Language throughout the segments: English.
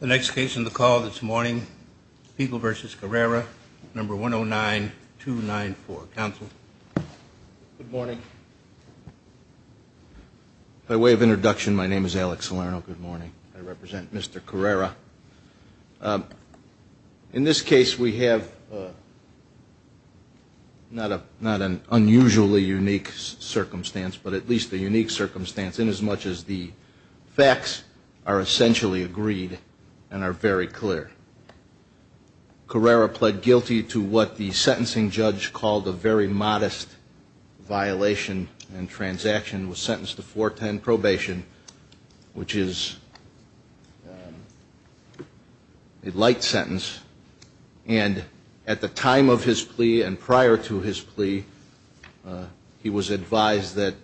The next case on the call this morning, Fiegel v. Carrera, No. 109294. Counsel. Good morning. By way of introduction, my name is Alex Salerno. Good morning. I represent Mr. Carrera. In this case, we have not an unusually unique circumstance, but at least a unique circumstance, inasmuch as the facts are essentially agreed and are very clear. Carrera pled guilty to what the sentencing judge called a very modest violation and transaction, was sentenced to four-ten probation, which is a light sentence. And at the time of his plea and prior to his plea, he was advised that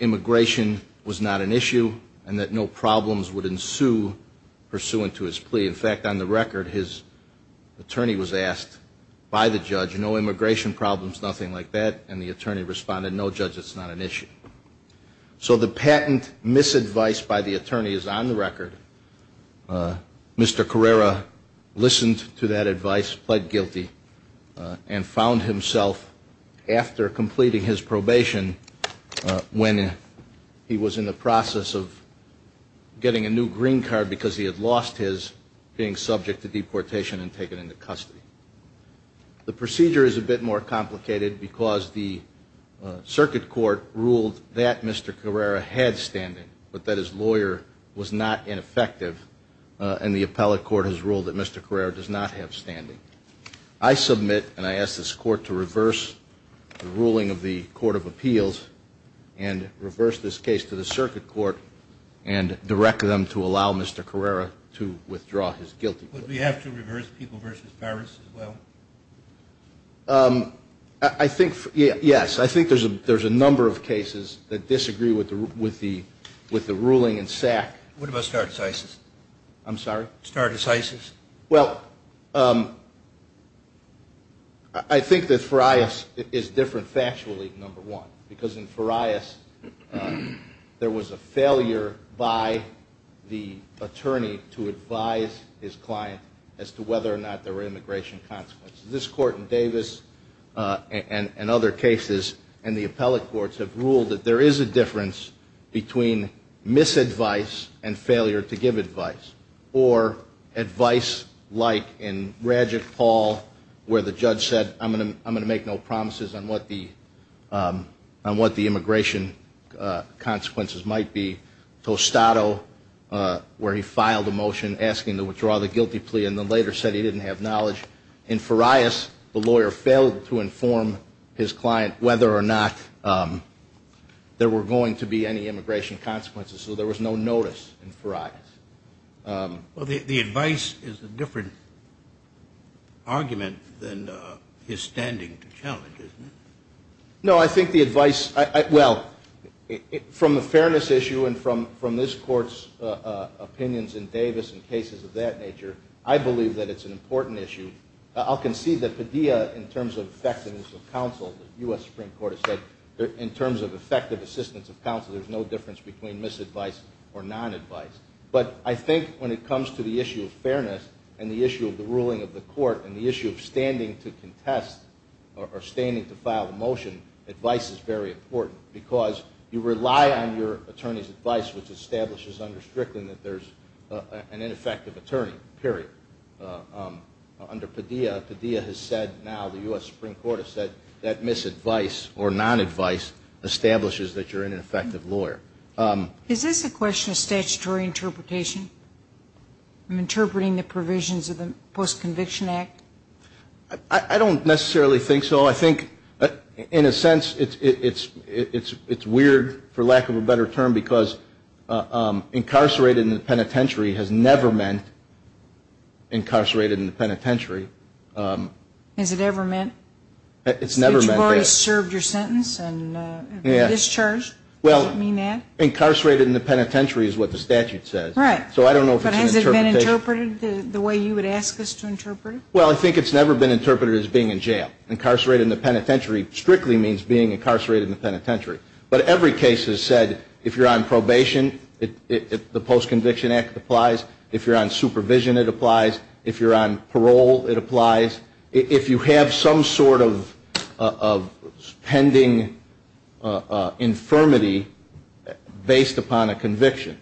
immigration was not an issue and that no problems would ensue pursuant to his plea. In fact, on the record, his attorney was asked by the judge, no immigration problems, nothing like that, and the attorney responded, no, judge, it's not an issue. So the patent misadvice by the attorney is on the record. Mr. Carrera listened to that advice, pled guilty, and found himself, after completing his probation, when he was in the process of getting a new green card because he had lost his, being subject to deportation and taken into custody. The procedure is a bit more complicated because the circuit court ruled that Mr. Carrera had standing, but that his lawyer was not ineffective, and the appellate court has ruled that Mr. Carrera does not have standing. I submit and I ask this court to reverse the ruling of the Court of Appeals and reverse this case to the circuit court and direct them to allow Mr. Carrera to withdraw his guilty plea. Would we have to reverse People v. Paris as well? I think, yes. I think there's a number of cases that disagree with the ruling in SAC. What about Stardes Isis? I'm sorry? Stardes Isis. Well, I think that Farias is different factually, number one, because in Farias there was a failure by the attorney to advise his client as to whether or not there were immigration consequences. This court in Davis and other cases and the appellate courts have ruled that there is a difference between misadvice and failure to give advice, or advice like in Radjic Paul where the judge said, I'm going to make no promises on what the immigration consequences might be. Tostado, where he filed a motion asking to withdraw the guilty plea and then later said he didn't have knowledge. In Farias, the lawyer failed to inform his client whether or not there were going to be any immigration consequences, Well, the advice is a different argument than his standing to challenge, isn't it? No, I think the advice, well, from the fairness issue and from this court's opinions in Davis and cases of that nature, I believe that it's an important issue. I'll concede that Padilla, in terms of effectiveness of counsel, the U.S. Supreme Court has said, in terms of effective assistance of counsel, there's no difference between misadvice or non-advice. But I think when it comes to the issue of fairness and the issue of the ruling of the court and the issue of standing to contest or standing to file a motion, advice is very important because you rely on your attorney's advice, which establishes under Strickland that there's an ineffective attorney, period. Under Padilla, Padilla has said now, the U.S. Supreme Court has said, that misadvice or non-advice establishes that you're an ineffective lawyer. Is this a question of statutory interpretation? I'm interpreting the provisions of the Post-Conviction Act. I don't necessarily think so. I think, in a sense, it's weird, for lack of a better term, because incarcerated in the penitentiary has never meant incarcerated in the penitentiary. Has it ever meant? It's never meant that. Well, incarcerated in the penitentiary is what the statute says. Right. So I don't know if it's an interpretation. But has it been interpreted the way you would ask us to interpret it? Well, I think it's never been interpreted as being in jail. Incarcerated in the penitentiary strictly means being incarcerated in the penitentiary. But every case has said, if you're on probation, the Post-Conviction Act applies. If you're on supervision, it applies. If you're on parole, it applies. If you have some sort of pending infirmity based upon a conviction,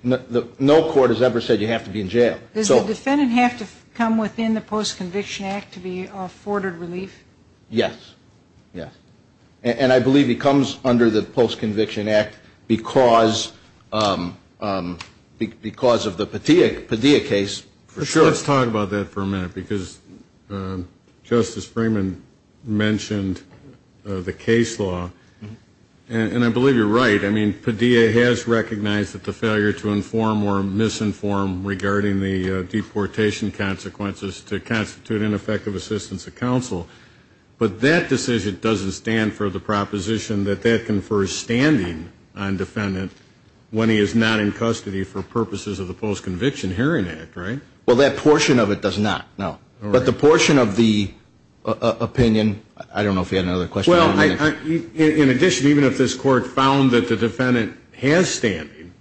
no court has ever said you have to be in jail. Does the defendant have to come within the Post-Conviction Act to be afforded relief? Yes. Yes. And I believe he comes under the Post-Conviction Act because of the Padilla case, for sure. Let's talk about that for a minute because Justice Freeman mentioned the case law. And I believe you're right. I mean, Padilla has recognized that the failure to inform or misinform regarding the deportation consequences to constitute ineffective assistance to counsel. But that decision doesn't stand for the proposition that that confers standing on defendant when he is not in custody for purposes of the Post-Conviction Hearing Act, right? Well, that portion of it does not, no. But the portion of the opinion, I don't know if you had another question. Well, in addition, even if this Court found that the defendant has standing,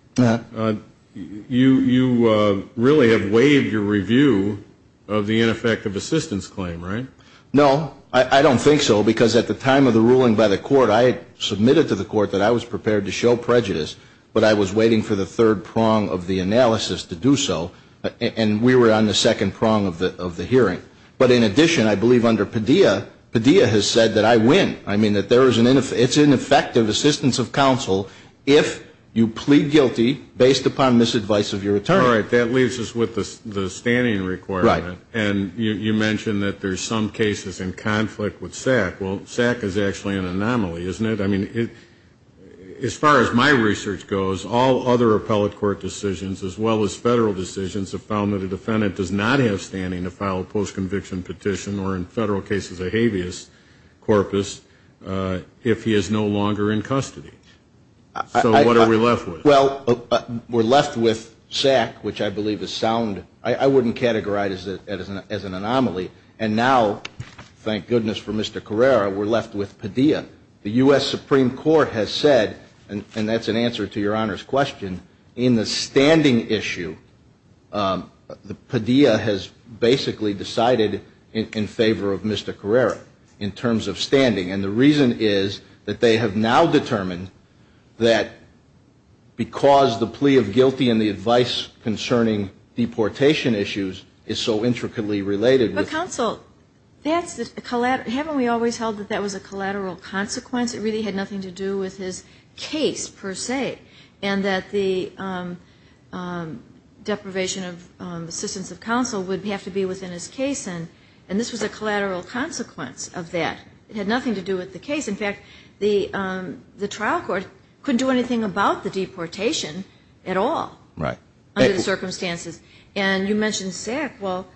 you really have waived your review of the ineffective assistance claim, right? No. I don't think so because at the time of the ruling by the Court, I had submitted to the Court that I was prepared to show prejudice, but I was waiting for the third prong of the analysis to do so. And we were on the second prong of the hearing. But in addition, I believe under Padilla, Padilla has said that I win, I mean, that it's ineffective assistance of counsel if you plead guilty based upon misadvice of your attorney. All right. That leaves us with the standing requirement. Right. And you mentioned that there's some cases in conflict with SAC. Well, SAC is actually an anomaly, isn't it? I mean, as far as my research goes, all other appellate court decisions, as well as federal decisions, have found that a defendant does not have standing to file a post-conviction petition or in federal cases a habeas corpus if he is no longer in custody. So what are we left with? Well, we're left with SAC, which I believe is sound. I wouldn't categorize it as an anomaly. And now, thank goodness for Mr. Carrera, we're left with Padilla. The U.S. Supreme Court has said, and that's an answer to Your Honor's question, in the standing issue, Padilla has basically decided in favor of Mr. Carrera in terms of standing. And the reason is that they have now determined that because the plea of guilty and the advice concerning deportation issues is so intricately related. But counsel, haven't we always held that that was a collateral consequence? It really had nothing to do with his case, per se, and that the deprivation of assistance of counsel would have to be within his case. And this was a collateral consequence of that. It had nothing to do with the case. In fact, the trial court couldn't do anything about the deportation at all under the circumstances. And you mentioned SAC. Well,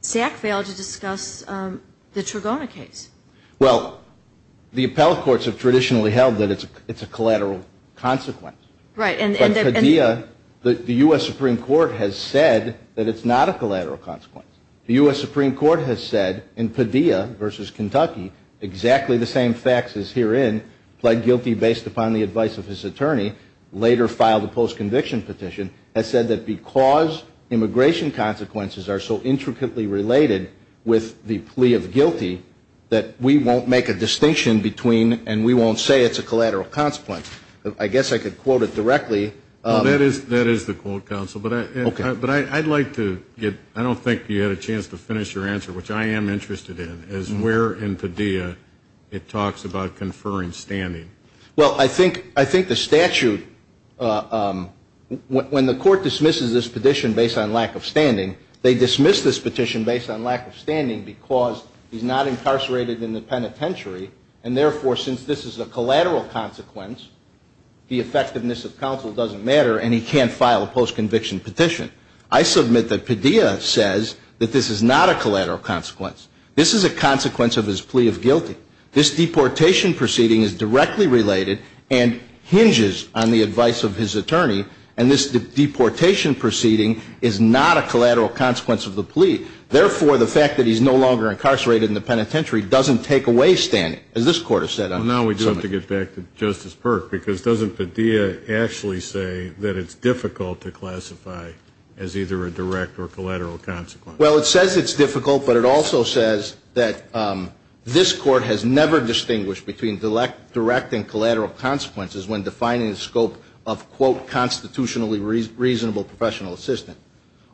SAC failed to discuss the Trigona case. Well, the appellate courts have traditionally held that it's a collateral consequence. Right. But Padilla, the U.S. Supreme Court has said that it's not a collateral consequence. The U.S. Supreme Court has said in Padilla v. Kentucky, exactly the same facts as herein, pled guilty based upon the advice of his attorney, later filed a post-conviction petition, has said that because immigration consequences are so intricately related with the plea of guilty, that we won't make a distinction between and we won't say it's a collateral consequence. I guess I could quote it directly. That is the quote, counsel. Okay. But I'd like to get, I don't think you had a chance to finish your answer, which I am interested in, is where in Padilla it talks about conferring standing. Well, I think the statute, when the court dismisses this petition based on lack of standing, they dismiss this petition based on lack of standing because he's not incarcerated in the penitentiary, and therefore since this is a collateral consequence, the effectiveness of counsel doesn't matter and he can't file a post-conviction petition. I submit that Padilla says that this is not a collateral consequence. This is a consequence of his plea of guilty. This deportation proceeding is directly related and hinges on the advice of his attorney, and this deportation proceeding is not a collateral consequence of the plea. Therefore, the fact that he's no longer incarcerated in the penitentiary doesn't take away standing, as this Court has said. Well, now we do have to get back to Justice Perk, because doesn't Padilla actually say that it's difficult to classify as either a direct or collateral consequence? Well, it says it's difficult, but it also says that this Court has never distinguished between direct and collateral consequences when defining the scope of, quote, constitutionally reasonable professional assistance.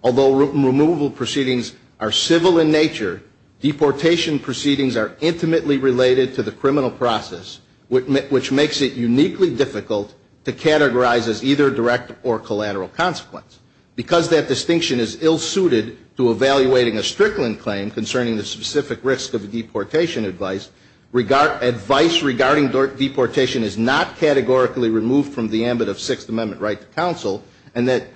Although removal proceedings are civil in nature, deportation proceedings are intimately related to the criminal process, which makes it uniquely difficult to categorize as either direct or collateral consequence, because that distinction is ill-suited to evaluating a Strickland claim concerning the specific risk of a deportation advice. Advice regarding deportation is not categorically removed from the ambit of Sixth Amendment right to counsel, and that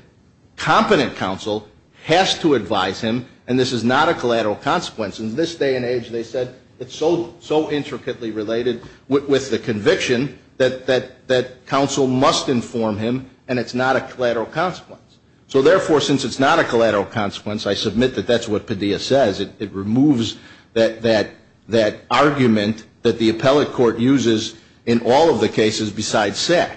competent counsel has to advise him, and this is not a collateral consequence. In this day and age, they said it's so intricately related with the conviction that counsel must inform him, and it's not a collateral consequence. So therefore, since it's not a collateral consequence, I submit that that's what Padilla says. It removes that argument that the appellate court uses in all of the cases besides SAC.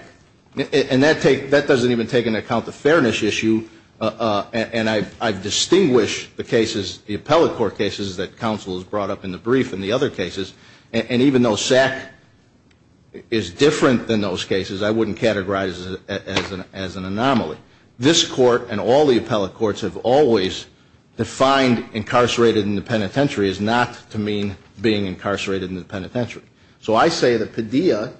And that doesn't even take into account the fairness issue, and I've distinguished the cases, the appellate court cases that counsel has brought up in the brief and the other cases, and even though SAC is different than those cases, I wouldn't categorize it as an anomaly. This court and all the appellate courts have always defined incarcerated in the penitentiary as not to mean being incarcerated in the penitentiary. So I say that Padilla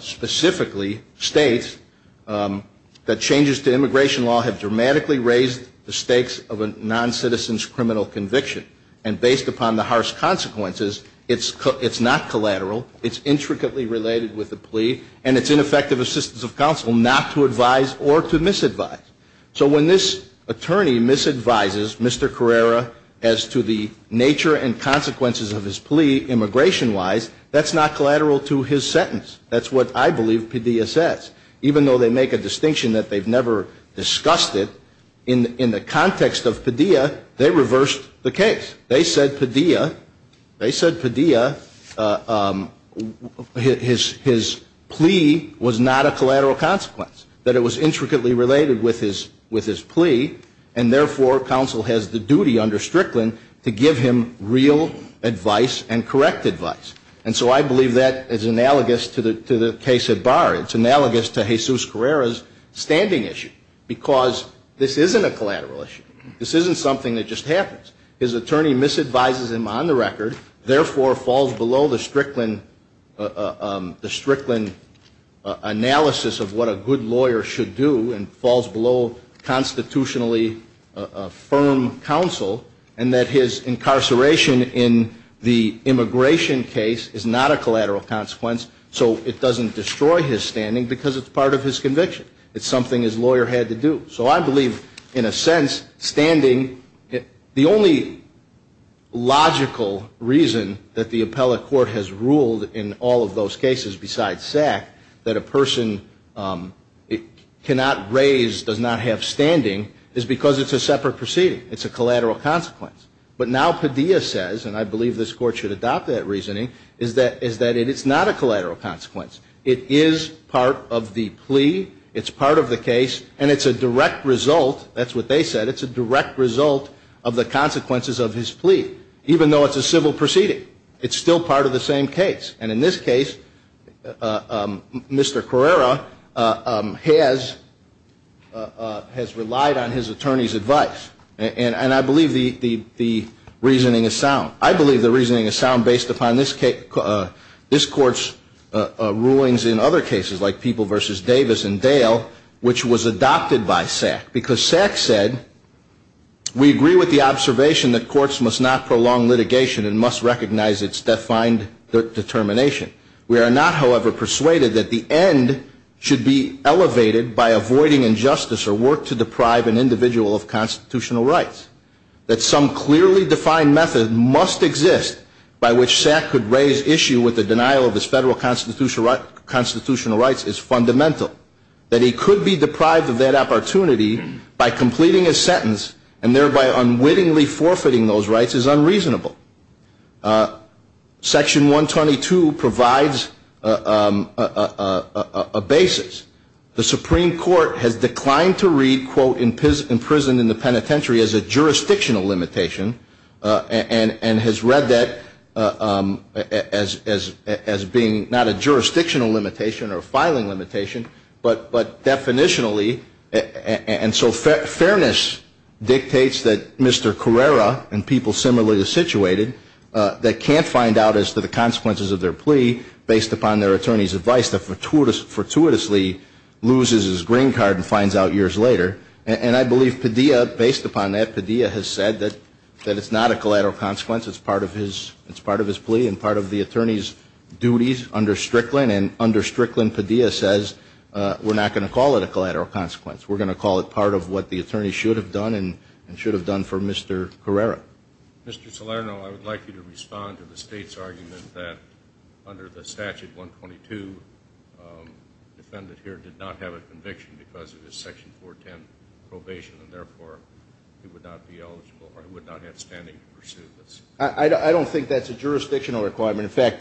specifically states that changes to immigration law have dramatically raised the stakes of a non-citizen's criminal conviction, and based upon the harsh consequences, it's not collateral, it's intricately related with the plea, and it's ineffective assistance of counsel not to advise or to misadvise. So when this attorney misadvises Mr. Carrera as to the nature and consequences of his plea immigration-wise, that's not collateral to his sentence. That's what I believe Padilla says. Even though they make a distinction that they've never discussed it, in the context of Padilla, they reversed the case. They said Padilla, they said Padilla, his plea was not a collateral consequence, that it was intricately related with his plea, and therefore, counsel has the duty under Strickland to give him real advice and correct advice. And so I believe that is analogous to the case at Barr. It's analogous to Jesus Carrera's standing issue, because this isn't a collateral issue. This isn't something that just happens. His attorney misadvises him on the record, therefore falls below the Strickland analysis of what a good lawyer should do and falls below constitutionally firm counsel, and that his incarceration in the immigration case is not a collateral consequence, so it doesn't destroy his standing because it's part of his conviction. It's something his lawyer had to do. So I believe, in a sense, standing, the only logical reason that the appellate court has ruled in all of those cases, besides SAC, that a person cannot raise, does not have standing, is because it's a separate proceeding. It's a collateral consequence. But now Padilla says, and I believe this Court should adopt that reasoning, is that it is not a collateral consequence. It is part of the plea. It's part of the case, and it's a direct result. That's what they said. It's a direct result of the consequences of his plea, even though it's a civil proceeding. It's still part of the same case. And in this case, Mr. Carrera has relied on his attorney's advice, and I believe the reasoning is sound. I believe the reasoning is sound based upon this Court's rulings in other cases, like People v. Davis and Dale, which was adopted by SAC because SAC said, We agree with the observation that courts must not prolong litigation and must recognize its defined determination. We are not, however, persuaded that the end should be elevated by avoiding injustice or work to deprive an individual of constitutional rights. That some clearly defined method must exist by which SAC could raise issue with the denial of its federal constitutional rights is fundamental. That he could be deprived of that opportunity by completing his sentence and thereby unwittingly forfeiting those rights is unreasonable. Section 122 provides a basis. The Supreme Court has declined to read, quote, But definitionally, and so fairness dictates that Mr. Carrera and people similarly situated, that can't find out as to the consequences of their plea based upon their attorney's advice, that fortuitously loses his green card and finds out years later. And I believe Padilla, based upon that, Padilla has said that it's not a collateral consequence. It's part of his plea and part of the attorney's duties under Strickland. And under Strickland, Padilla says we're not going to call it a collateral consequence. We're going to call it part of what the attorney should have done and should have done for Mr. Carrera. Mr. Salerno, I would like you to respond to the state's argument that under the statute 122, the defendant here did not have a conviction because of his section 410 probation, and therefore he would not be eligible or would not have standing to pursue this. I don't think that's a jurisdictional requirement. In fact,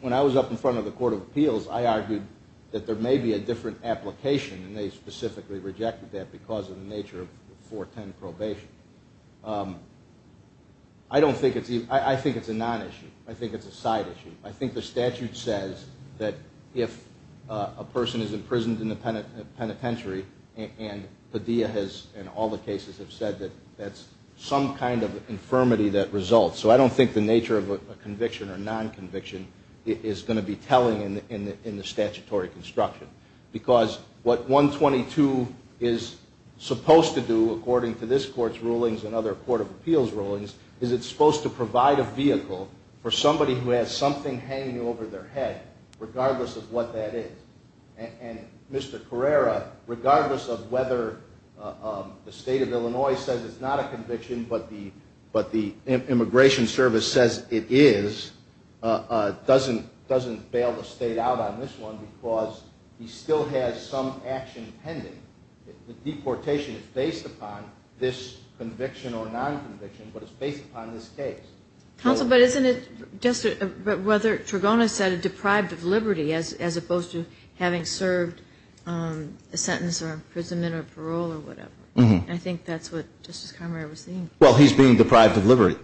when I was up in front of the Court of Appeals, I argued that there may be a different application, and they specifically rejected that because of the nature of 410 probation. I think it's a non-issue. I think it's a side issue. I think the statute says that if a person is imprisoned in the penitentiary and Padilla has in all the cases have said that that's some kind of infirmity that results. So I don't think the nature of a conviction or non-conviction is going to be telling in the statutory construction because what 122 is supposed to do according to this Court's rulings and other Court of Appeals rulings is it's supposed to provide a vehicle for somebody who has something hanging over their head, regardless of what that is. And Mr. Carrera, regardless of whether the State of Illinois says it's not a conviction but the immigration service says it is, doesn't bail the State out on this one because he still has some action pending. The deportation is based upon this conviction or non-conviction, but it's based upon this case. Counsel, but isn't it just whether Tragona said deprived of liberty as opposed to having served a sentence or imprisonment or parole or whatever. I think that's what Justice Carrera was saying. Well, he's being deprived of liberty.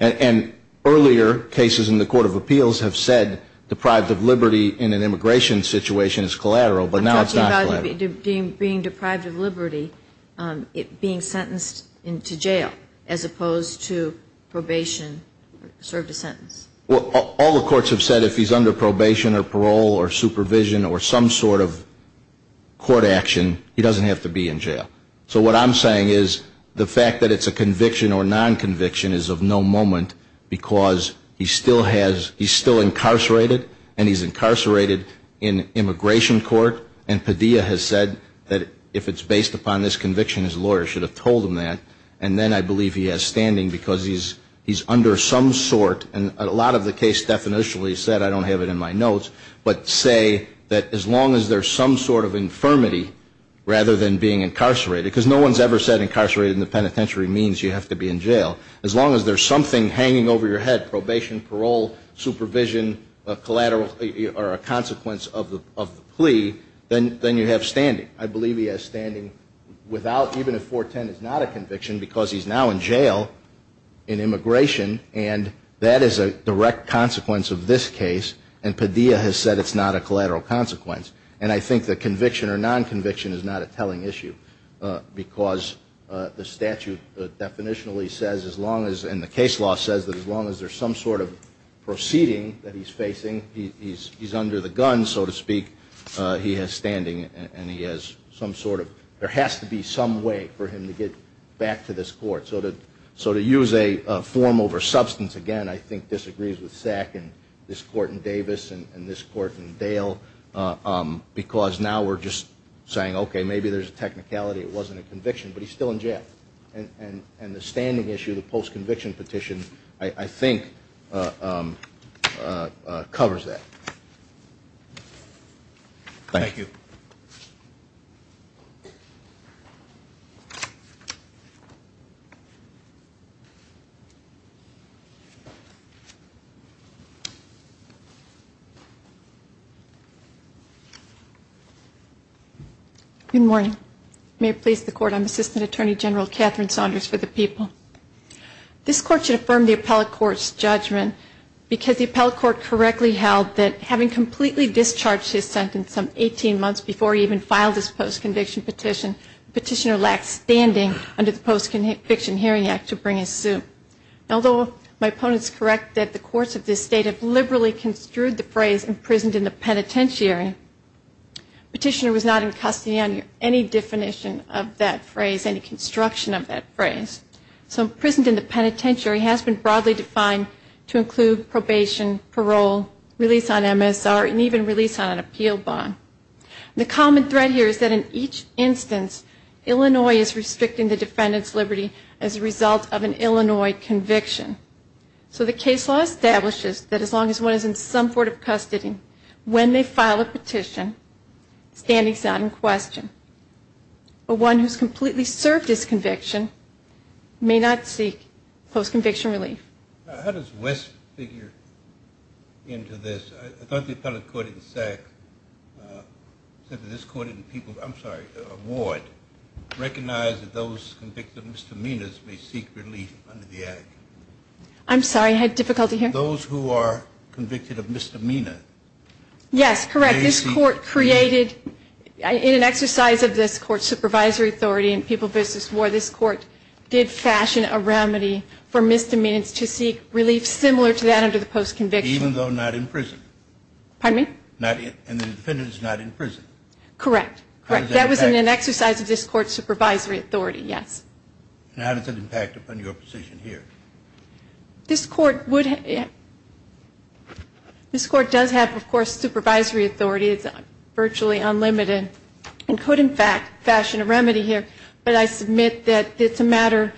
And earlier cases in the Court of Appeals have said deprived of liberty in an immigration situation is collateral, but now it's not collateral. I'm talking about him being deprived of liberty, being sentenced to jail as opposed to probation, served a sentence. Well, all the courts have said if he's under probation or parole or supervision or some sort of court action, he doesn't have to be in jail. So what I'm saying is the fact that it's a conviction or non-conviction is of no moment because he still has, he's still incarcerated and he's incarcerated in immigration court and Padilla has said that if it's based upon this conviction, his lawyer should have told him that. And then I believe he has standing because he's under some sort, and a lot of the case definitionally said, I don't have it in my notes, but say that as long as there's some sort of infirmity rather than being incarcerated, because no one's ever said incarcerated in the penitentiary means you have to be in jail, as long as there's something hanging over your head, probation, parole, supervision, collateral, or a consequence of the plea, then you have standing. I believe he has standing without, even if 410 is not a conviction because he's now in jail in immigration and that is a direct consequence of this case and Padilla has said it's not a collateral consequence. And I think the conviction or non-conviction is not a telling issue because the statute definitionally says as long as, and the case law says that as long as there's some sort of proceeding that he's facing, he's under the gun, so to speak, he has standing and he has some sort of, there has to be some way for him to get back to this court. So to use a form over substance, again, I think disagrees with SAC and this court in Davis and this court in Dale, because now we're just saying, okay, maybe there's a technicality, it wasn't a conviction, but he's still in jail. And the standing issue, the post-conviction petition, I think covers that. Thank you. Good morning. May it please the court, I'm Assistant Attorney General Catherine Saunders for the People. This court should affirm the appellate court's judgment because the appellate court correctly held that having completely discharged his sentence some 18 months before he even filed his post-conviction petition, the petitioner lacks standing under the Post-Conviction Hearing Act to bring his suit. Although my opponents correct that the courts of this state have liberally construed the phrase imprisoned in the penitentiary, the petitioner was not in custody on any definition of that phrase, any construction of that phrase. So imprisoned in the penitentiary has been broadly defined to include probation, parole, release on MSR, and even release on an appeal bond. The common thread here is that in each instance, Illinois is restricting the defendant's liberty as a result of an Illinois conviction. So the case law establishes that as long as one is in some sort of custody, when they file a petition, standing's not in question. But one who's completely served his conviction may not seek post-conviction relief. How does West figure into this? I thought the appellate court in SAC said that this court didn't people, I'm sorry, award, recognize that those convicted of misdemeanors may seek relief under the act. I'm sorry, I had difficulty here. Those who are convicted of misdemeanor. Yes, correct, this court created, in an exercise of this court's supervisory authority in people versus war, this court did fashion a remedy for misdemeanors to seek relief similar to that under the post-conviction. Even though not in prison. Pardon me? And the defendant is not in prison. Correct. That was in an exercise of this court's supervisory authority, yes. And how does it impact upon your position here? This court would, this court does have, of course, supervisory authority. It's virtually unlimited and could, in fact, fashion a remedy here. But I submit that it's a matter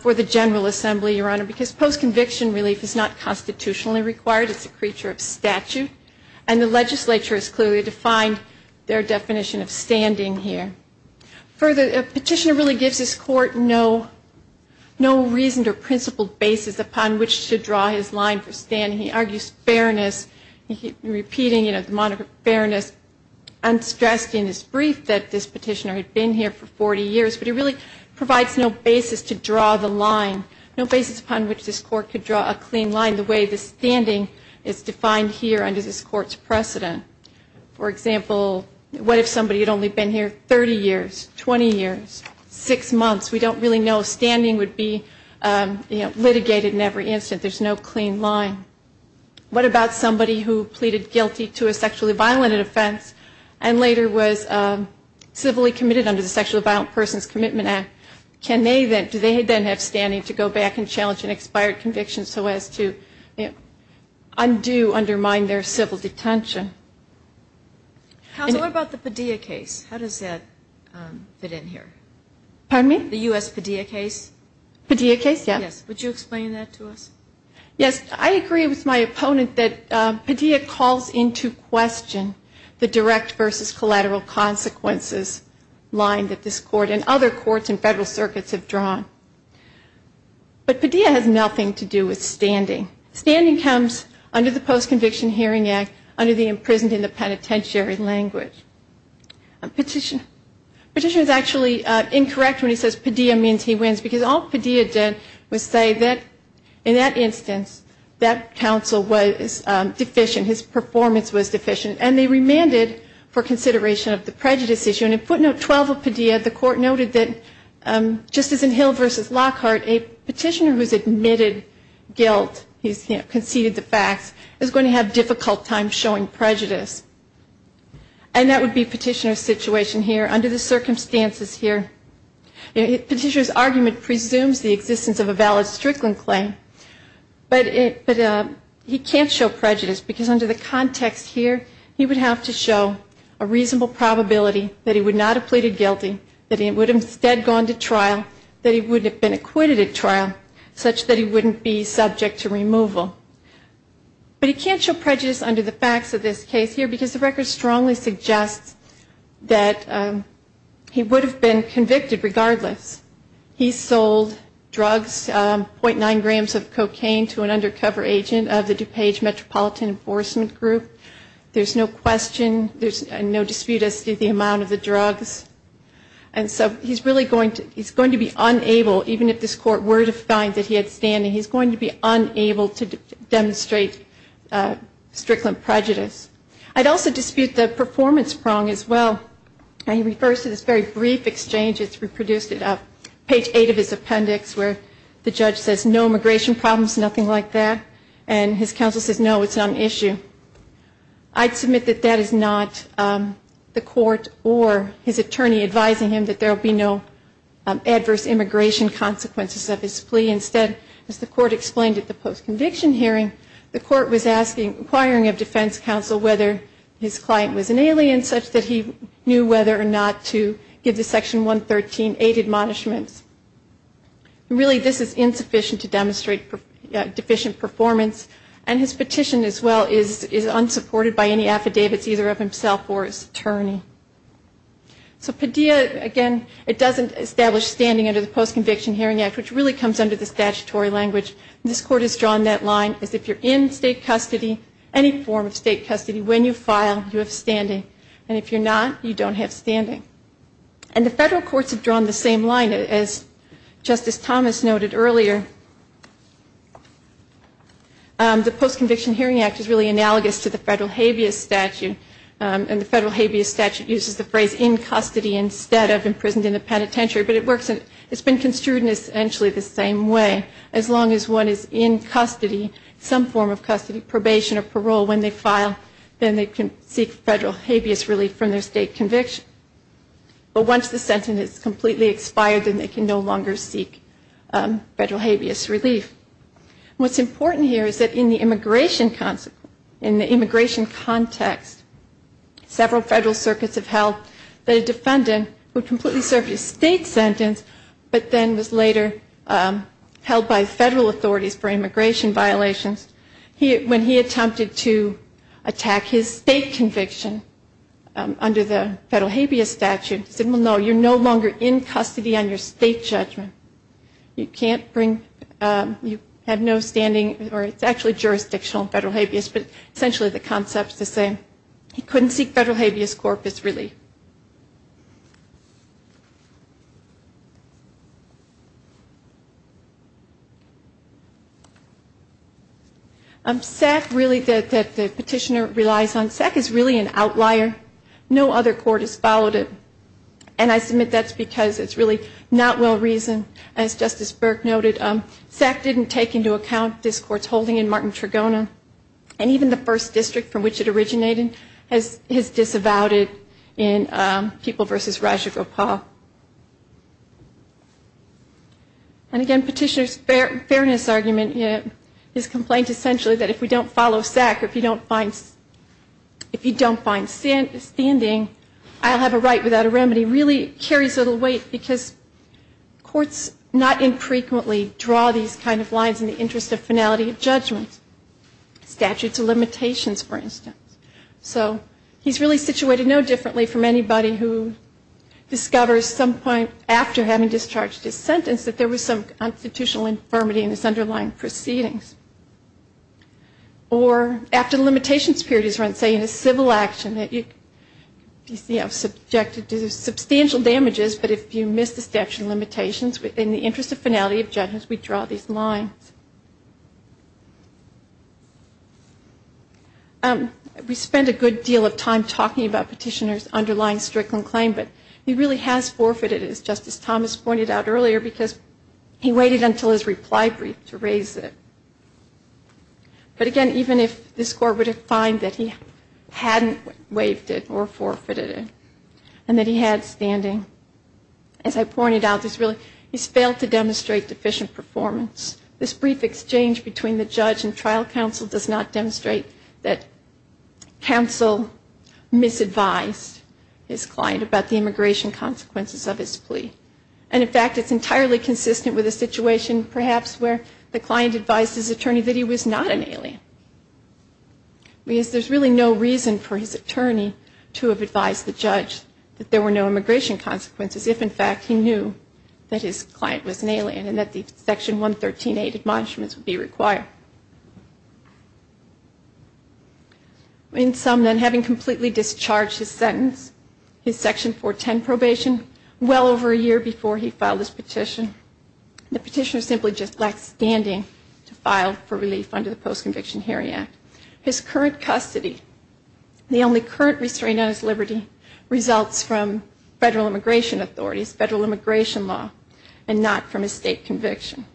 for the General Assembly, Your Honor, because post-conviction relief is not constitutionally required. It's a creature of statute. And the legislature has clearly defined their definition of standing here. Further, a petitioner really gives this court no reason or principled basis upon which to draw his line for standing. He argues fairness. He keeps repeating the moniker fairness unstressed in his brief that this petitioner had been here for 40 years. But he really provides no basis to draw the line, no basis upon which this court could draw a clean line, the way the standing is defined here under this court's precedent. For example, what if somebody had only been here 30 years, 20 years, six months? We don't really know if standing would be, you know, litigated in every instant. There's no clean line. What about somebody who pleaded guilty to a sexually violent offense and later was civilly committed under the Sexually Violent Persons Commitment Act? Can they then, do they then have standing to go back and challenge an expired conviction so as to undo, undermine their civil detention? Counsel, what about the Padilla case? How does that fit in here? Pardon me? The U.S. Padilla case? Padilla case, yes. Yes. Would you explain that to us? Yes. I agree with my opponent that Padilla calls into question the direct versus collateral consequences line that this court and other courts and federal circuits have drawn. But Padilla has nothing to do with standing. Standing comes under the Post-Conviction Hearing Act under the Imprisoned in the Penitentiary Language. A petitioner is actually incorrect when he says Padilla means he wins because all Padilla did was say that in that instance that counsel was deficient, his performance was deficient, and they remanded for consideration of the prejudice issue. And in footnote 12 of Padilla, the court noted that just as in Hill v. Lockhart, a petitioner who has admitted guilt, he's conceded the facts, is going to have a difficult time showing prejudice. And that would be a petitioner's situation here under the circumstances here. A petitioner's argument presumes the existence of a valid Strickland claim, but he can't show prejudice because under the context here, he would have to show a reasonable probability that he would not have pleaded guilty, that he would have instead gone to trial, that he wouldn't have been acquitted at trial, such that he wouldn't be subject to removal. But he can't show prejudice under the facts of this case here because the record strongly suggests that he would have been convicted regardless. He sold drugs, .9 grams of cocaine to an undercover agent of the DuPage Metropolitan Enforcement Group. There's no question, there's no dispute as to the amount of the drugs. And so he's really going to be unable, even if this court were to find that he had standing, he's going to be unable to demonstrate Strickland prejudice. I'd also dispute the performance prong as well. He refers to this very brief exchange, it's reproduced at page eight of his appendix, where the judge says no immigration problems, nothing like that, and his counsel says no, it's not an issue. I'd submit that that is not the court or his attorney advising him that there will be no adverse immigration consequences of his plea. Instead, as the court explained at the post-conviction hearing, the court was asking, inquiring of defense counsel whether his client was an alien, such that he knew whether or not to give the Section 113A admonishments. And really this is insufficient to demonstrate deficient performance, and his petition as well is unsupported by any affidavits either of himself or his attorney. So Padilla, again, it doesn't establish standing under the Post-Conviction Hearing Act, which really comes under the statutory language, and this court has drawn that line as if you're in state custody, any form of state custody, when you file, you have standing, and if you're not, you don't have standing. And the federal courts have drawn the same line as Justice Thomas noted earlier. The Post-Conviction Hearing Act is really analogous to the federal habeas statute, and the federal habeas statute uses the phrase in custody instead of imprisoned in the penitentiary, but it's been construed in essentially the same way, as long as one is in custody, some form of custody, probation or parole, when they file, then they can seek federal habeas relief from their state conviction. But once the sentence is completely expired, then they can no longer seek federal habeas relief. What's important here is that in the immigration context, several federal circuits have held that a defendant would completely serve his state sentence, but then was later held by federal authorities for immigration violations. When he attempted to attack his state conviction under the federal habeas statute, he said, well, no, you're no longer in custody on your state judgment. You can't bring, you have no standing, or it's actually jurisdictional federal habeas, but essentially the concept's the same. He couldn't seek federal habeas corpus relief. SAC really, that the petitioner relies on, SAC is really an outlier. No other court has followed it, and I submit that's because it's really not well-reasoned, as Justice Burke noted. SAC didn't take into account this court's holding in Martin Trigona, and even the first district from which it originated has disavowed it in People v. Rajagopal. And again, petitioner's fairness argument is complained essentially that if we don't follow SAC, or if you don't find standing, I'll have a right without a remedy, really carries a little weight because courts not infrequently draw these kind of lines in the interest of finality of judgment, statutes of limitations, for instance. So he's really situated no differently from anybody who discovers some point after having discharged his sentence that there was some constitutional infirmity in his underlying proceedings. Or after the limitations period is run, say, in a civil action, you see how subjected to substantial damages, but if you miss the statute of limitations in the interest of finality of judgment, we draw these lines. We spend a good deal of time talking about petitioner's underlying strickland claim, but he really has forfeited it, as Justice Thomas pointed out earlier, because he waited until his reply brief to raise it. But again, even if this Court would find that he hadn't waived it or forfeited it, and that he had standing, as I pointed out, he's failed to demonstrate deficient performance. This brief exchange between the judge and trial counsel does not demonstrate that counsel misadvised his client about the immigration consequences of his plea. And in fact, it's entirely consistent with a situation perhaps where the client advised his attorney that he was not an alien, because there's really no reason for his attorney to have advised the judge that there were no immigration consequences if, in fact, he knew that his client was an alien and that the Section 113A admonishments would be required. In sum, then, having completely discharged his sentence, his Section 410 probation, well over a year before he filed his petition, the petitioner simply just lacked standing to file for relief under the Post-Conviction Hearing Act. His current custody, the only current restraint on his liberty, results from federal immigration authorities, federal immigration law, and not from a state conviction.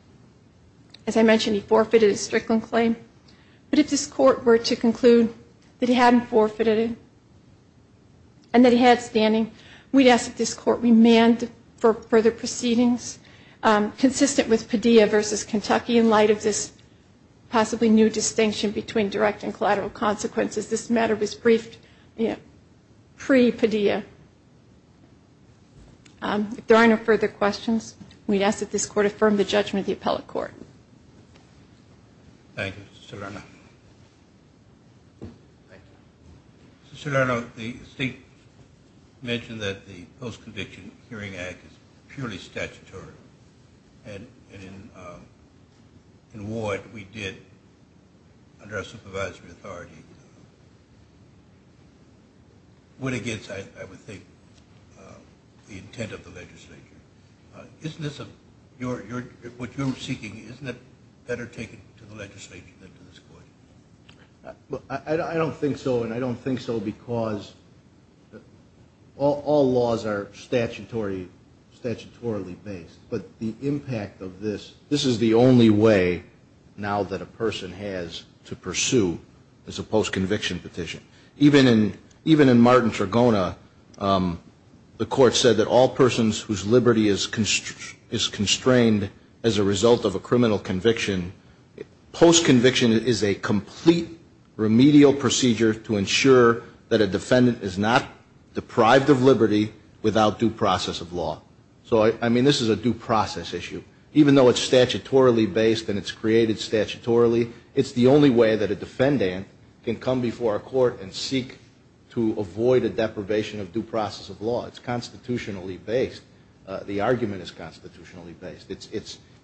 As I mentioned, he forfeited his strickland claim, but if this Court were to conclude that he hadn't forfeited it and that he had standing, we'd ask that this Court remand for further proceedings consistent with Padilla v. Kentucky in light of this possibly new distinction between direct and collateral consequences. This matter was briefed pre-Padilla. If there are no further questions, we'd ask that this Court affirm the judgment of the appellate court. Thank you, Mr. Serrano. Mr. Serrano, the State mentioned that the Post-Conviction Hearing Act is purely statutory, and in what we did under our supervisory authority went against, I would think, the intent of the legislature. What you're seeking, isn't it better taken to the legislature than to this Court? I don't think so, and I don't think so because all laws are statutorily based, but the impact of this, this is the only way now that a person has to pursue a post-conviction petition. Even in Martin Tragona, the Court said that all persons whose liberty is constrained as a result of a criminal conviction, post-conviction is a complete remedial procedure to ensure that a defendant is not deprived of liberty without due process of law. So, I mean, this is a due process issue. Even though it's statutorily based and it's created statutorily, it's the only way that a defendant can come before a court and seek to avoid a deprivation of due process of law. It's constitutionally based. The argument is constitutionally based.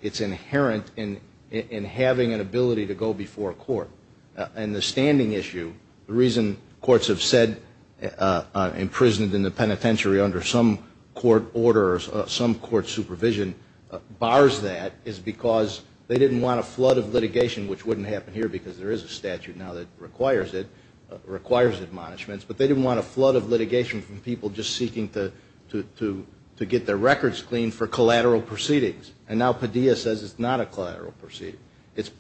It's inherent in having an ability to go before a court. And the standing issue, the reason courts have said, imprisoned in the penitentiary under some court order or some court supervision, bars that is because they didn't want a flood of litigation, which wouldn't happen here because there is a statute now that requires it, requires admonishments, but they didn't want a flood of litigation from people just seeking to get their records cleaned for collateral proceedings. And now Padilla says it's not a collateral proceeding. It's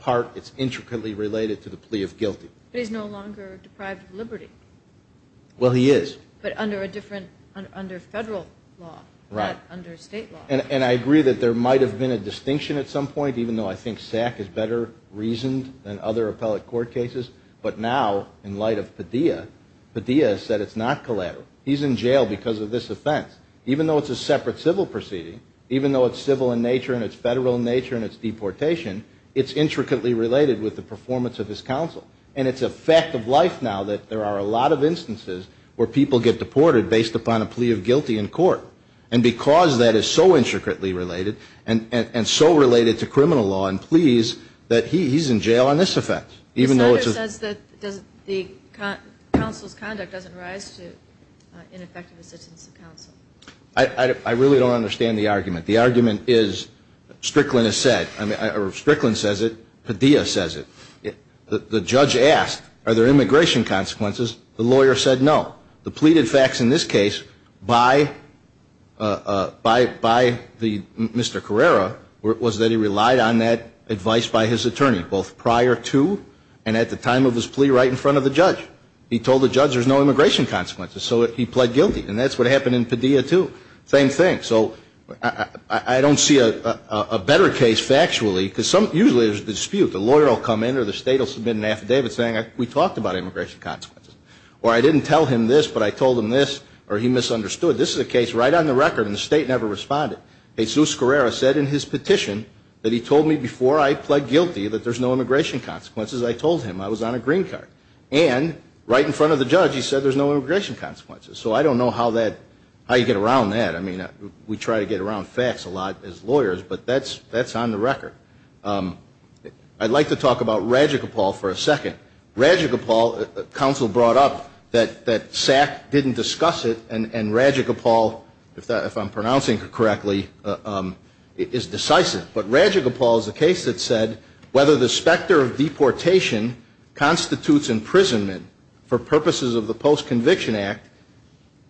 intricately related to the plea of guilty. But he's no longer deprived of liberty. Well, he is. But under federal law, not under state law. And I agree that there might have been a distinction at some point, even though I think SAC is better reasoned than other appellate court cases. But now, in light of Padilla, Padilla has said it's not collateral. He's in jail because of this offense. Even though it's a separate civil proceeding, even though it's civil in nature and it's federal in nature and it's deportation, it's intricately related with the performance of his counsel. And it's a fact of life now that there are a lot of instances where people get deported based upon a plea of guilty in court, and because that is so intricately related and so related to criminal law and pleas, that he's in jail on this offense. The senator says that the counsel's conduct doesn't rise to ineffective assistance of counsel. I really don't understand the argument. The argument is Strickland has said, or Strickland says it, Padilla says it. The judge asked, are there immigration consequences? The lawyer said no. The pleaded facts in this case by Mr. Carrera was that he relied on that advice by his attorney, both prior to and at the time of his plea right in front of the judge. He told the judge there's no immigration consequences, so he pled guilty. And that's what happened in Padilla, too. Same thing. So I don't see a better case factually, because usually there's a dispute. The lawyer will come in or the state will submit an affidavit saying we talked about immigration consequences. Or I didn't tell him this, but I told him this, or he misunderstood. This is a case right on the record, and the state never responded. Jesus Carrera said in his petition that he told me before I pled guilty that there's no immigration consequences. I told him. I was on a green card. And right in front of the judge he said there's no immigration consequences. So I don't know how you get around that. I mean, we try to get around facts a lot as lawyers, but that's on the record. I'd like to talk about Rajagopal for a second. Rajagopal, counsel brought up that SAC didn't discuss it, and Rajagopal, if I'm pronouncing it correctly, is decisive. But Rajagopal is a case that said whether the specter of deportation constitutes imprisonment for purposes of the Post-Conviction Act,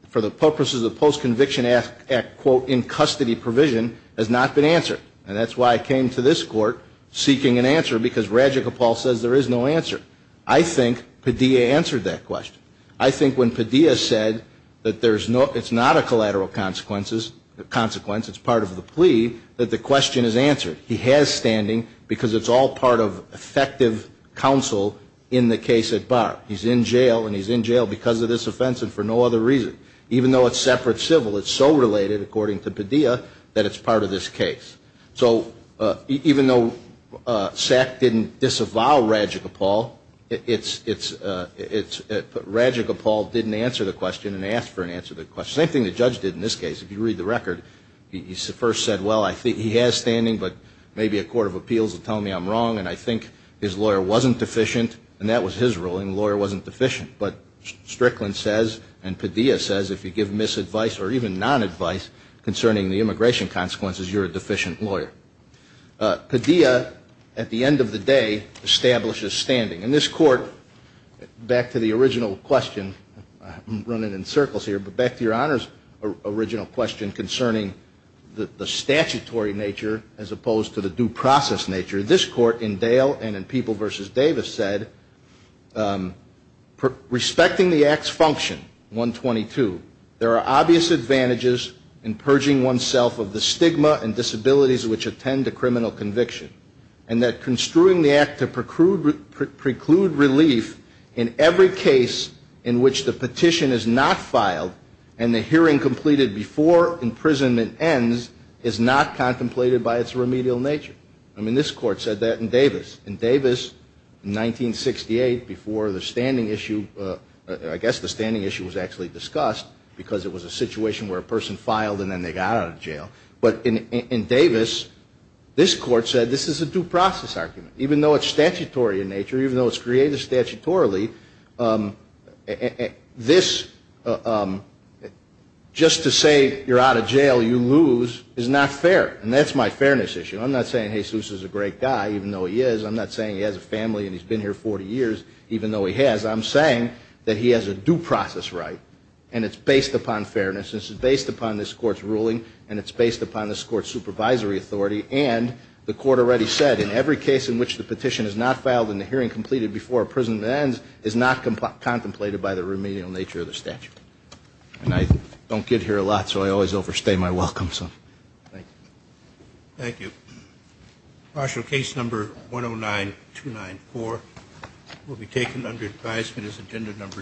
for the purposes of the Post-Conviction Act, quote, in custody provision, has not been answered. And that's why I came to this court seeking an answer, because Rajagopal says there is no answer. I think Padilla answered that question. I think when Padilla said that it's not a collateral consequence, it's part of the plea, that the question is answered. He has standing because it's all part of effective counsel in the case at bar. He's in jail, and he's in jail because of this offense and for no other reason. Even though it's separate civil, it's so related, according to Padilla, that it's part of this case. So even though SAC didn't disavow Rajagopal, Rajagopal didn't answer the question and asked for an answer to the question. Same thing the judge did in this case. If you read the record, he first said, well, he has standing, but maybe a court of appeals will tell me I'm wrong, and I think his lawyer wasn't deficient, and that was his ruling, the lawyer wasn't deficient. But Strickland says, and Padilla says, if you give misadvice or even nonadvice concerning the immigration consequences, you're a deficient lawyer. Padilla, at the end of the day, establishes standing. In this court, back to the original question, I'm running in circles here, but back to Your Honor's original question concerning the statutory nature as opposed to the due process nature, this court in Dale and in People v. Davis said, respecting the act's function, 122, there are obvious advantages in purging oneself of the stigma and disabilities which attend to criminal conviction, and that construing the act to preclude relief in every case in which the petition is not filed and the hearing completed before imprisonment ends is not contemplated by its remedial nature. I mean, this court said that in Davis. In Davis, 1968, before the standing issue, I guess the standing issue was actually discussed because it was a situation where a person filed and then they got out of jail. But in Davis, this court said this is a due process argument. Even though it's statutory in nature, even though it's created statutorily, this, just to say you're out of jail, you lose, is not fair, and that's my fairness issue. I'm not saying Jesus is a great guy, even though he is. I'm not saying he has a family and he's been here 40 years, even though he has. I'm saying that he has a due process right, and it's based upon fairness. This is based upon this court's ruling, and it's based upon this court's supervisory authority, and the court already said in every case in which the petition is not filed and the hearing completed before imprisonment ends is not contemplated by the remedial nature of the statute. And I don't get here a lot, so I always overstay my welcome, so thank you. Thank you. Partial case number 109294 will be taken under advisement as agenda number 16.